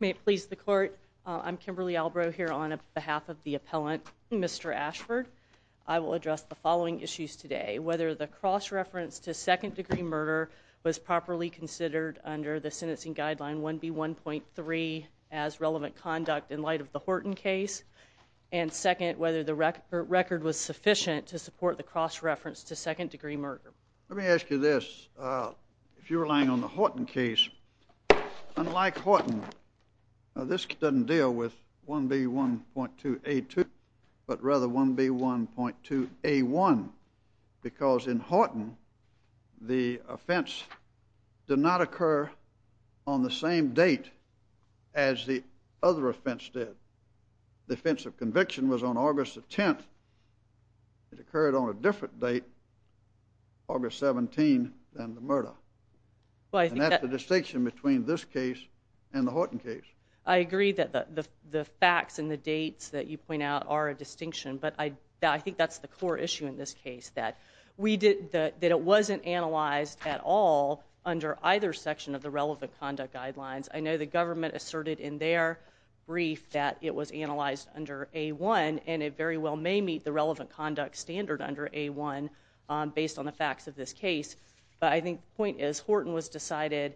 May it please the court, I'm Kimberly Albrow here on behalf of the appellant Mr. Ashford. I will address the following issues today. Whether the cross-reference to second degree murder was properly considered under the sentencing guideline 1B1.3 as relevant conduct in light of the Horton case and second whether the record was sufficient to support the cross-reference to second degree murder. Let me ask you this, if you're relying on the Horton case, unlike Horton this doesn't deal with 1B1.2A2 but rather 1B1.2A1 because in Horton the offense did not occur on the same date as the other offense did. The offense of conviction was on August the 10th. It occurred on a different date, August 17, than the murder. And that's the distinction between this case and the Horton case. I agree that the facts and the dates that you point out are a distinction but I think that's the core issue in this case that we did that it wasn't analyzed at all under either section of the relevant conduct guidelines. I know the government asserted in their brief that it was under 1B1.2A1 based on the facts of this case but I think the point is Horton was decided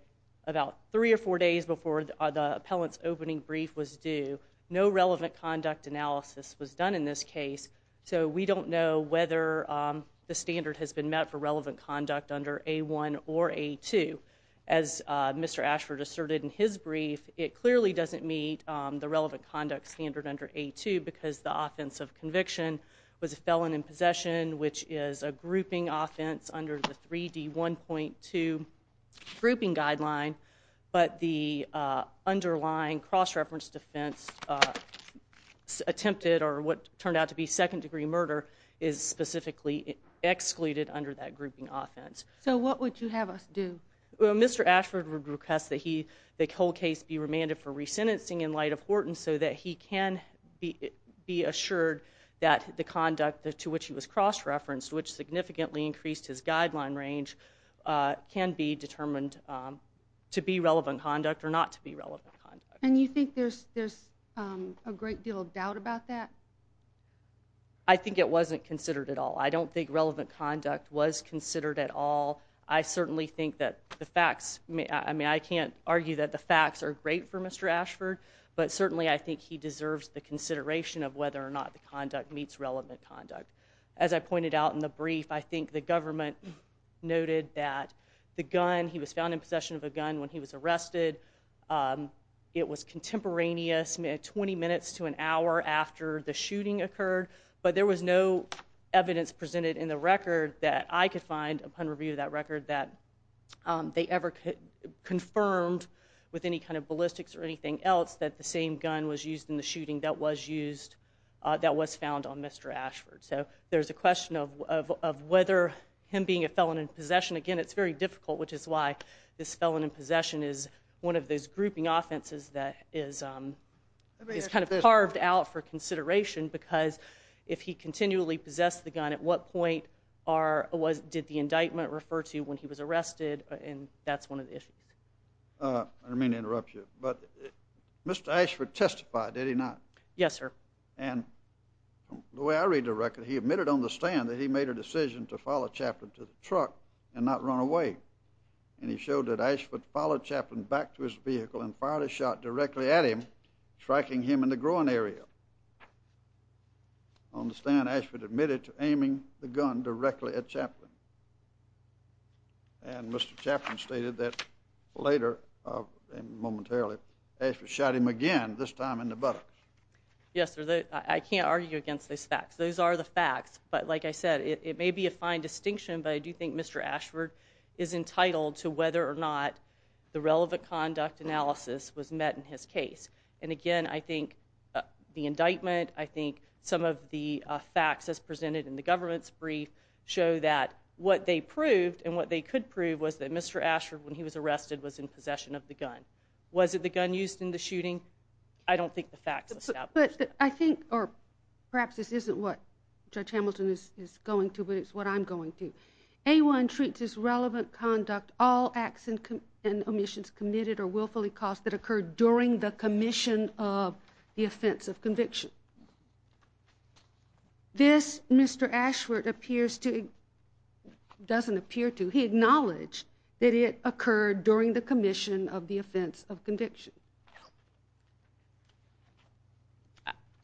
about three or four days before the appellant's opening brief was due. No relevant conduct analysis was done in this case so we don't know whether the standard has been met for relevant conduct under 1B1.2A1 or 1B1.2A2. As Mr. Ashford asserted in his brief, it clearly doesn't meet the relevant conduct standard under 1B1.2A2 because the offense of conviction was a felon in possession which is a grouping offense under the 3D1.2 grouping guideline but the underlying cross-reference defense attempted or what turned out to be second degree murder is specifically excluded under that grouping offense. So what would you have us do? Well Mr. Ashford would request that the whole case be remanded for re-sentencing in light of Horton so that he can be assured that the conduct to which he was cross-referenced, which significantly increased his guideline range, can be determined to be relevant conduct or not to be relevant conduct. And you think there's a great deal of doubt about that? I think it wasn't considered at all. I don't think relevant conduct was considered at all. I certainly think that the I think he deserves the consideration of whether or not the conduct meets relevant conduct. As I pointed out in the brief, I think the government noted that the gun, he was found in possession of a gun when he was arrested. It was contemporaneous, 20 minutes to an hour after the shooting occurred, but there was no evidence presented in the record that I could find upon review of that gun was used in the shooting that was used, that was found on Mr. Ashford. So there's a question of whether him being a felon in possession, again it's very difficult, which is why this felon in possession is one of those grouping offenses that is kind of carved out for consideration because if he continually possessed the gun, at what point did the indictment refer to when he was arrested, and that's one of the issues. I didn't mean to interrupt you, but Mr. Ashford testified, did he not? Yes, sir. And the way I read the record, he admitted on the stand that he made a decision to follow Chaplin to the truck and not run away, and he showed that Ashford followed Chaplin back to his vehicle and fired a shot directly at him, striking him in the groin area. On the stand, Ashford admitted to aiming the gun directly at Chaplin. And Mr. Chaplin stated that later, momentarily, Ashford shot him again, this time in the buttocks. Yes, sir, I can't argue against those facts. Those are the facts, but like I said, it may be a fine distinction, but I do think Mr. Ashford is entitled to whether or not the relevant conduct analysis was met in his case. And again, I think the indictment, I think some of the facts as presented in the government's brief show that what they proved and what they could prove was that Mr. Ashford, when he was arrested, was in possession of the gun. Was it the gun used in the shooting? I don't think the facts establish that. But I think, or perhaps this isn't what Judge Hamilton is going to, but it's what I'm going to, A1 treats as relevant conduct all acts and omissions committed or willfully caused that occurred during the commission of the offense of conviction. This, Mr. Ashford appears to, doesn't appear to, he acknowledged that it occurred during the commission of the offense of conviction.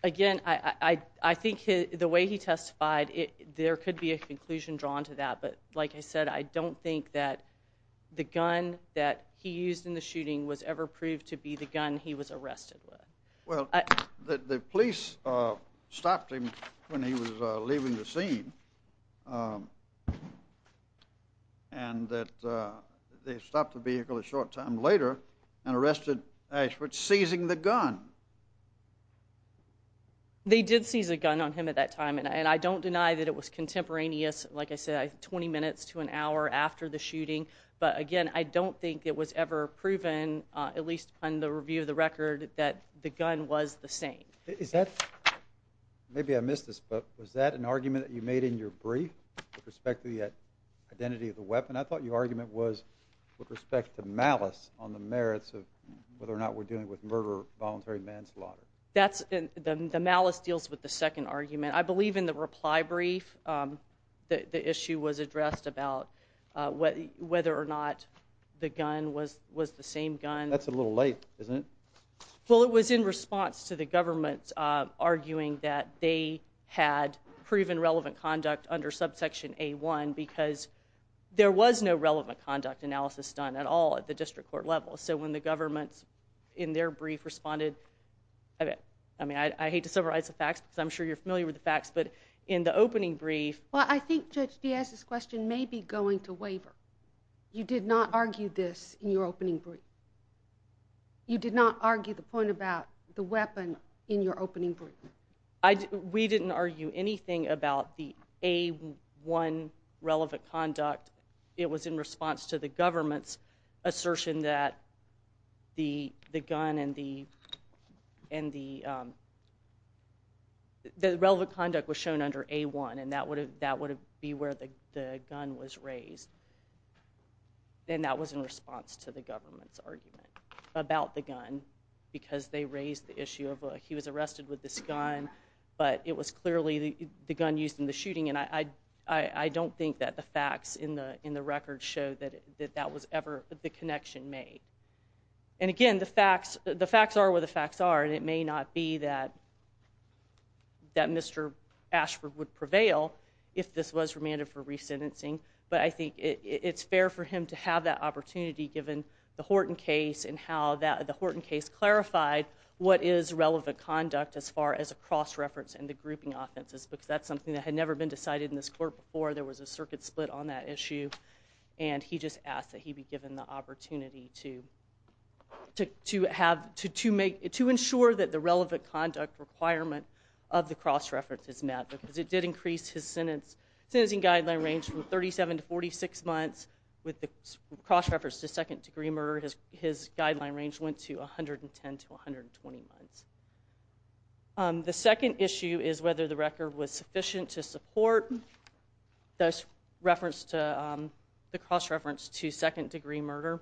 Again, I think the way he testified, there could be a conclusion drawn to that, but like I said, I don't think that the gun that he used in the shooting was ever proved to be the gun he was arrested with. Well, the police stopped him when he was leaving the scene, and that they stopped the vehicle a short time later and arrested Ashford seizing the gun. They did seize a gun on him at that time, and I don't deny that it was contemporaneous, like I said, 20 minutes to an hour after the shooting. But again, I don't think it was ever proven, at least on the review of the record, that the gun was the same. Is that, maybe I missed this, but was that an argument that you made in your brief with respect to the identity of the weapon? I thought your argument was with respect to malice on the merits of whether or not we're dealing with murder or voluntary manslaughter. That's, the malice deals with the second argument. I believe in the reply brief, the issue was addressed about whether or not the gun was the same gun. That's a little late, isn't it? Well, it was in response to the government arguing that they had proven relevant conduct under subsection A1 because there was no relevant conduct analysis done at all at the district court level. So when the government, in their brief, responded, I mean, I hate to summarize the facts because I'm sure you're familiar with the facts, but in the opening brief... Well, I think Judge Diaz's question may be going to waiver. You did not argue this in your opening brief. You did not argue the point about the weapon in your opening brief. We didn't argue anything about the A1 relevant conduct. It was in response to the government's assertion that the gun and the relevant conduct was shown under A1, and that would be where the gun was raised. And that was in response to the government's argument about the gun because they raised the issue of he was arrested with this gun, but it was clearly the gun used in the shooting. And I don't think that the facts in the record show that that was ever the connection made. And again, the facts are what the facts are, and it may not be that Mr. Ashford would prevail if this was remanded for resentencing, but I think it's fair for him to have that opportunity given the Horton case and how the Horton case clarified what is relevant conduct as far as a cross-reference and the grouping offenses because that's something that had never been decided in this court before. There was a circuit split on that issue, and he just asked that he be given the opportunity to ensure that the relevant conduct requirement of the cross-reference is met because it did increase his sentencing guideline range from 37 to 46 months. With the cross-reference to second degree murder, his guideline range went to 110 to 120 months. The second issue is whether the record was sufficient to support the cross-reference to second degree murder.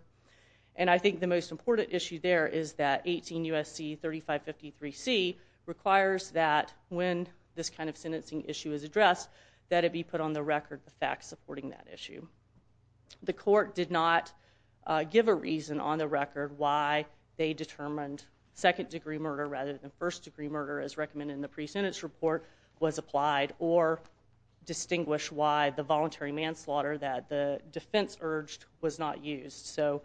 And I think the most important issue there is that 18 U.S.C. 3553C requires that when this kind of sentencing issue is addressed, that it be put on the record, the facts supporting that issue. The court did not give a reason on the record why they determined second degree murder rather than first degree murder as recommended in the pre-sentence report was applied or distinguish why the voluntary manslaughter that the defense urged was not used. So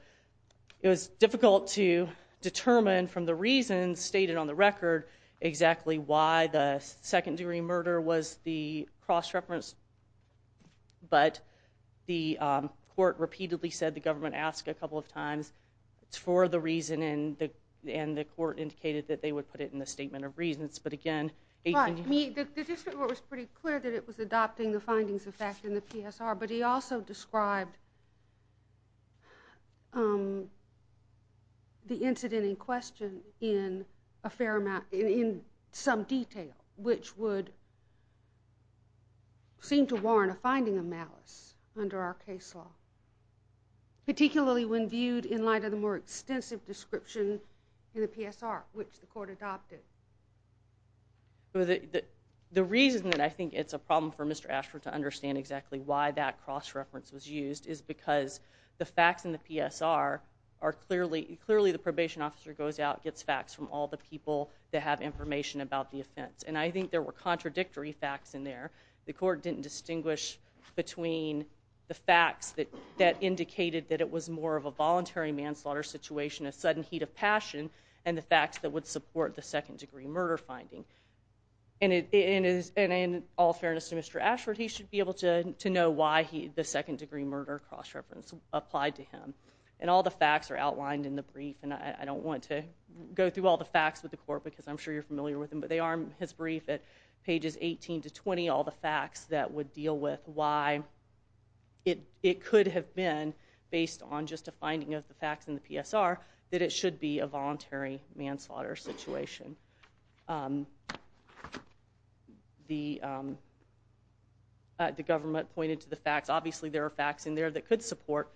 it was difficult to determine from the reasons stated on the record exactly why the second degree murder was the cross-reference, but the court repeatedly said the government asked a couple of times for the reason and the court indicated that they would put it in the statement of reasons. But again, 18 U.S.C. seemed to warrant a finding of malice under our case law, particularly when viewed in light of the more extensive description in the PSR, which the court adopted. The reason that I think it's a problem for Mr. Ashford to understand exactly why that cross-reference was used is because the facts in the PSR are clearly, clearly the probation officer goes out, gets facts from all the people that have information about the offense. And I think there were contradictory facts in there. The court didn't distinguish between the facts that indicated that it was more of a voluntary manslaughter situation, a sudden heat of passion, and the facts that would support the second degree murder finding. And in all fairness to Mr. Ashford, he should be able to know why the second degree murder cross-reference applied to him. And all the facts are outlined in the brief and I don't want to go through all the facts with the court because I'm sure you're familiar with them, but they are in his brief at pages 18 to 20, all the facts that would deal with why it could have been, based on just a finding of the facts in the PSR, that it should be a voluntary manslaughter situation. The government pointed to the facts. Obviously, there are facts in there that could support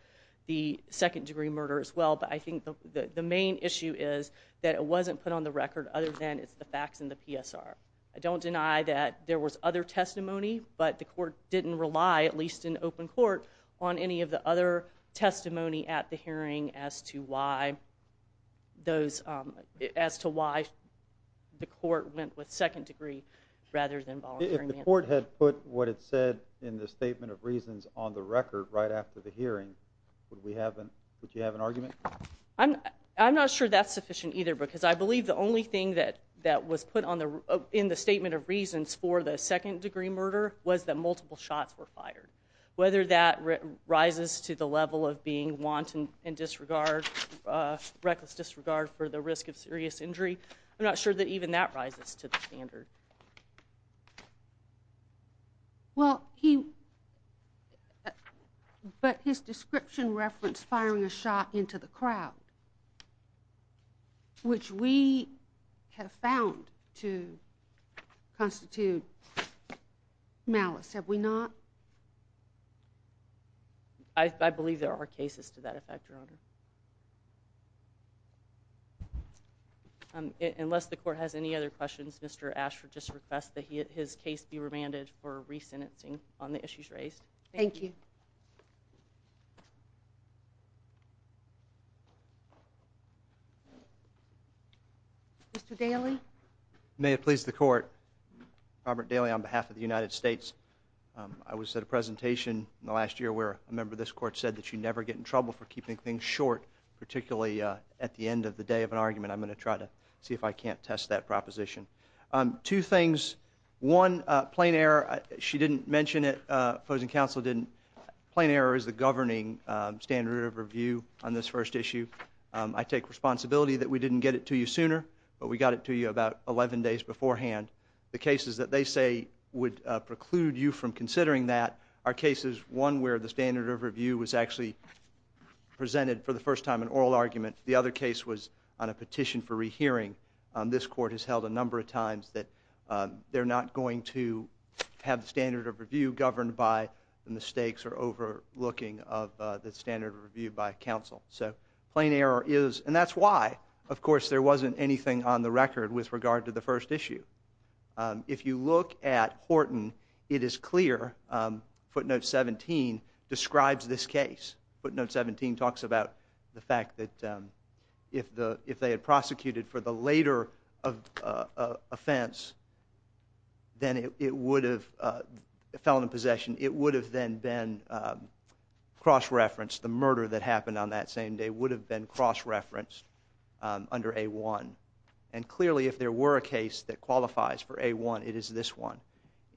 the second degree murder as well. But I think the main issue is that it wasn't put on the record other than it's the facts in the PSR. I don't deny that there was other testimony, but the court didn't rely, at least in open court, on any of the other testimony at the hearing as to why the court went with second degree rather than voluntary manslaughter. If the court had put what it said in the statement of reasons on the record right after the hearing, would you have an argument? I'm not sure that's sufficient either because I believe the only thing that was put in the statement of reasons for the second degree murder was that multiple shots were fired. Whether that rises to the level of being wanton and disregard, reckless disregard for the risk of serious injury, I'm not sure that even that rises to the standard. Well, but his description referenced firing a shot into the crowd, which we have found to constitute malice, have we not? I believe there are cases to that effect, Your Honor. Unless the court has any other questions, Mr. Ashford just requests that his case be remanded for re-sentencing on the issues raised. Thank you. Mr. Daly? May it please the court, Robert Daly on behalf of the United States. I was at a presentation in the last year where a member of this court said that you never get in trouble for keeping things short, particularly at the end of the day of an argument. I'm going to try to see if I can't test that proposition. Two things. One, plain error. She didn't mention it, foes and counsel didn't. Plain error is the governing standard of review on this first issue. I take responsibility that we didn't get it to you sooner, but we got it to you about 11 days beforehand. The cases that they say would preclude you from considering that are cases, one where the standard of review was actually presented for the first time in oral argument. The other case was on a petition for re-hearing. This court has held a number of times that they're not going to have the standard of review governed by the mistakes or overlooking of the standard of review by counsel. So, plain error is, and that's why, of course, there wasn't anything on the record with regard to the first issue. If you look at Horton, it is clear, footnote 17, describes this case. Footnote 17 talks about the fact that if they had prosecuted for the later offense, then it would have fell into possession. It would have then been cross-referenced, the murder that happened on that same day would have been cross-referenced under A1. And clearly, if there were a case that qualifies for A1, it is this one.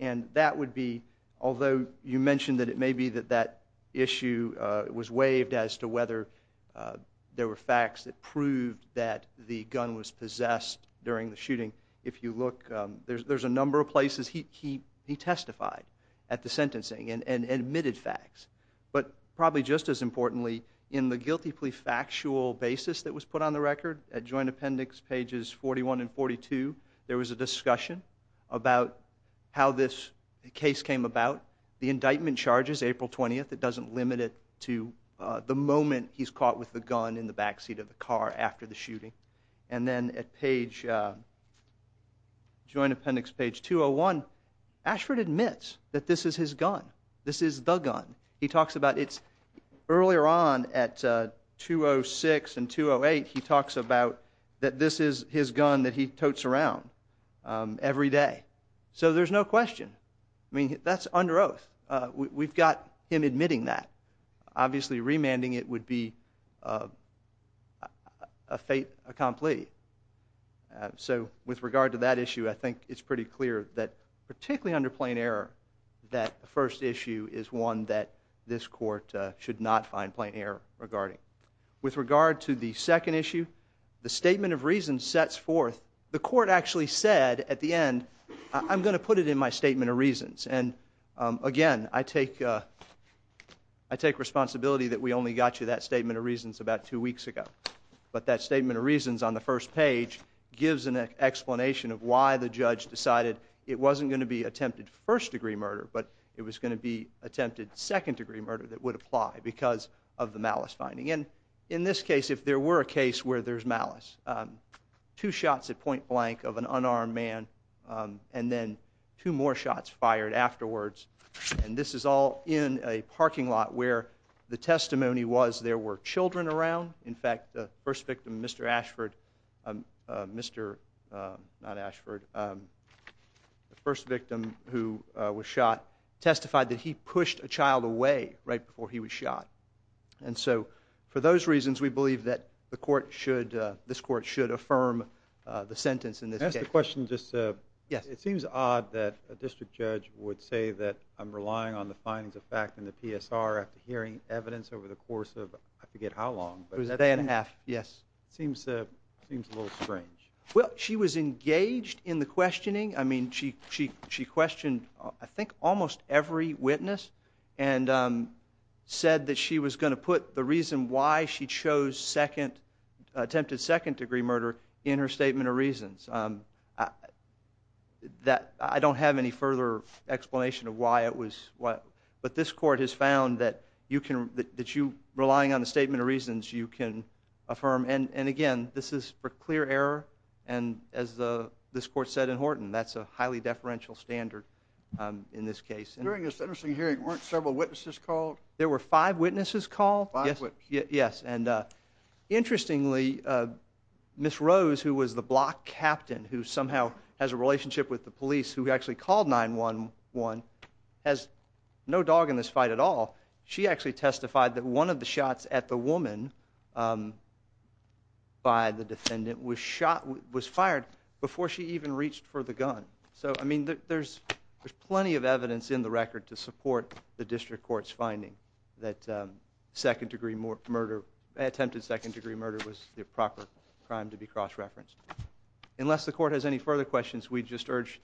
And that would be, although you mentioned that it may be that that issue was waived as to whether there were facts that proved that the gun was possessed during the shooting, if you look, there's a number of places he testified at the sentencing and admitted facts. But probably just as importantly, in the guilty plea factual basis that was put on the record, at joint appendix pages 41 and 42, there was a discussion about how this case came about. The indictment charges, April 20th, it doesn't limit it to the moment he's caught with the gun in the backseat of the car after the shooting. And then at page, joint appendix page 201, Ashford admits that this is his gun, this is the gun. He talks about, it's earlier on at 206 and 208, he talks about that this is his gun that he totes around every day. So there's no question. I mean, that's under oath. We've got him admitting that. Obviously, remanding it would be a fait accompli. So with regard to that issue, I think it's pretty clear that particularly under plain error, that the first issue is one that this court should not find plain error regarding. With regard to the second issue, the statement of reasons sets forth, the court actually said at the end, I'm going to put it in my statement of reasons. And again, I take responsibility that we only got you that statement of reasons about two weeks ago. But that statement of reasons on the first page gives an explanation of why the judge decided it wasn't going to be attempted first degree murder, but it was going to be attempted second degree murder that would apply because of the malice finding. And in this case, if there were a case where there's malice, two shots at point blank of an unarmed man and then two more shots fired afterwards, and this is all in a parking lot where the testimony was there were children around. In fact, the first victim, Mr. Ashford, Mr. not Ashford, the first victim who was shot testified that he pushed a child away right before he was shot. And so for those reasons, we believe that the court should, this court should affirm the sentence in this case. Can I ask a question? It seems odd that a district judge would say that I'm relying on the findings of fact in the PSR after hearing evidence over the course of, I forget how long, but it was a day and a half. Yes. Seems seems a little strange. Well, she was engaged in the questioning. I mean, she she she questioned, I think, almost every witness and said that she was going to put the reason why she chose second, attempted second degree murder in her statement of reasons that I don't have any further explanation of why it was what but this court has found that you can that you relying on the statement of reasons you can affirm. And again, this is for clear error. And as the this court said in Horton, that's a highly deferential standard in this case. During this interesting hearing, weren't several witnesses called? There were five witnesses called. Yes. Yes. And interestingly, Miss Rose, who was the block captain, who somehow has a relationship with the police who actually called 911 has no dog in this fight at all. She actually testified that one of the shots at the woman. By the defendant was shot, was fired before she even reached for the gun. So, I mean, there's there's plenty of evidence in the record to support the district court's finding that second degree murder, attempted second degree murder was the proper crime to be cross referenced. Unless the court has any further questions, we just urge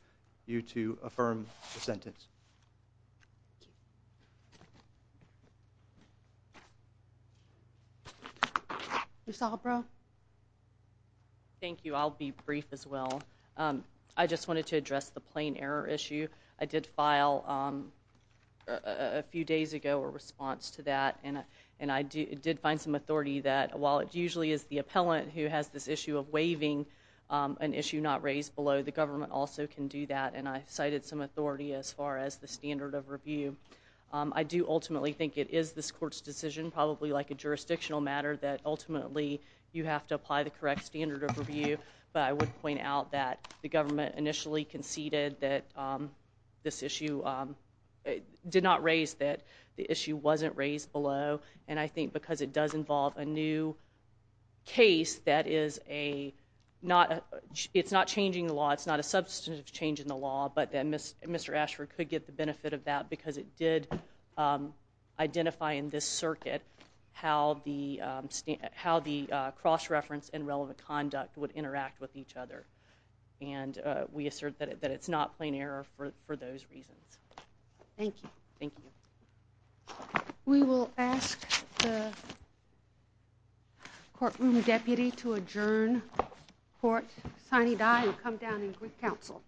you to affirm the sentence. Thank you. Thank you. I'll be brief as well. I just wanted to address the plain error issue. I did file a few days ago a response to that. And and I did find some authority that while it usually is the appellant who has this issue of waiving an issue not raised below, the government also can do that. And I cited some authority as far as the standard of review. I do ultimately think it is this court's decision, probably like a jurisdictional matter, that ultimately you have to apply the correct standard of review. But I would point out that the government initially conceded that this issue did not raise, that the issue wasn't raised below. And I think because it does involve a new case that is a not it's not changing the law. It's not a substantive change in the law. But then Mr. Ashford could get the benefit of that because it did identify in this circuit how the cross-reference and relevant conduct would interact with each other. And we assert that it's not plain error for those reasons. Thank you. Thank you. We will ask the courtroom deputy to adjourn court. Sonny Dye will come down and greet counsel.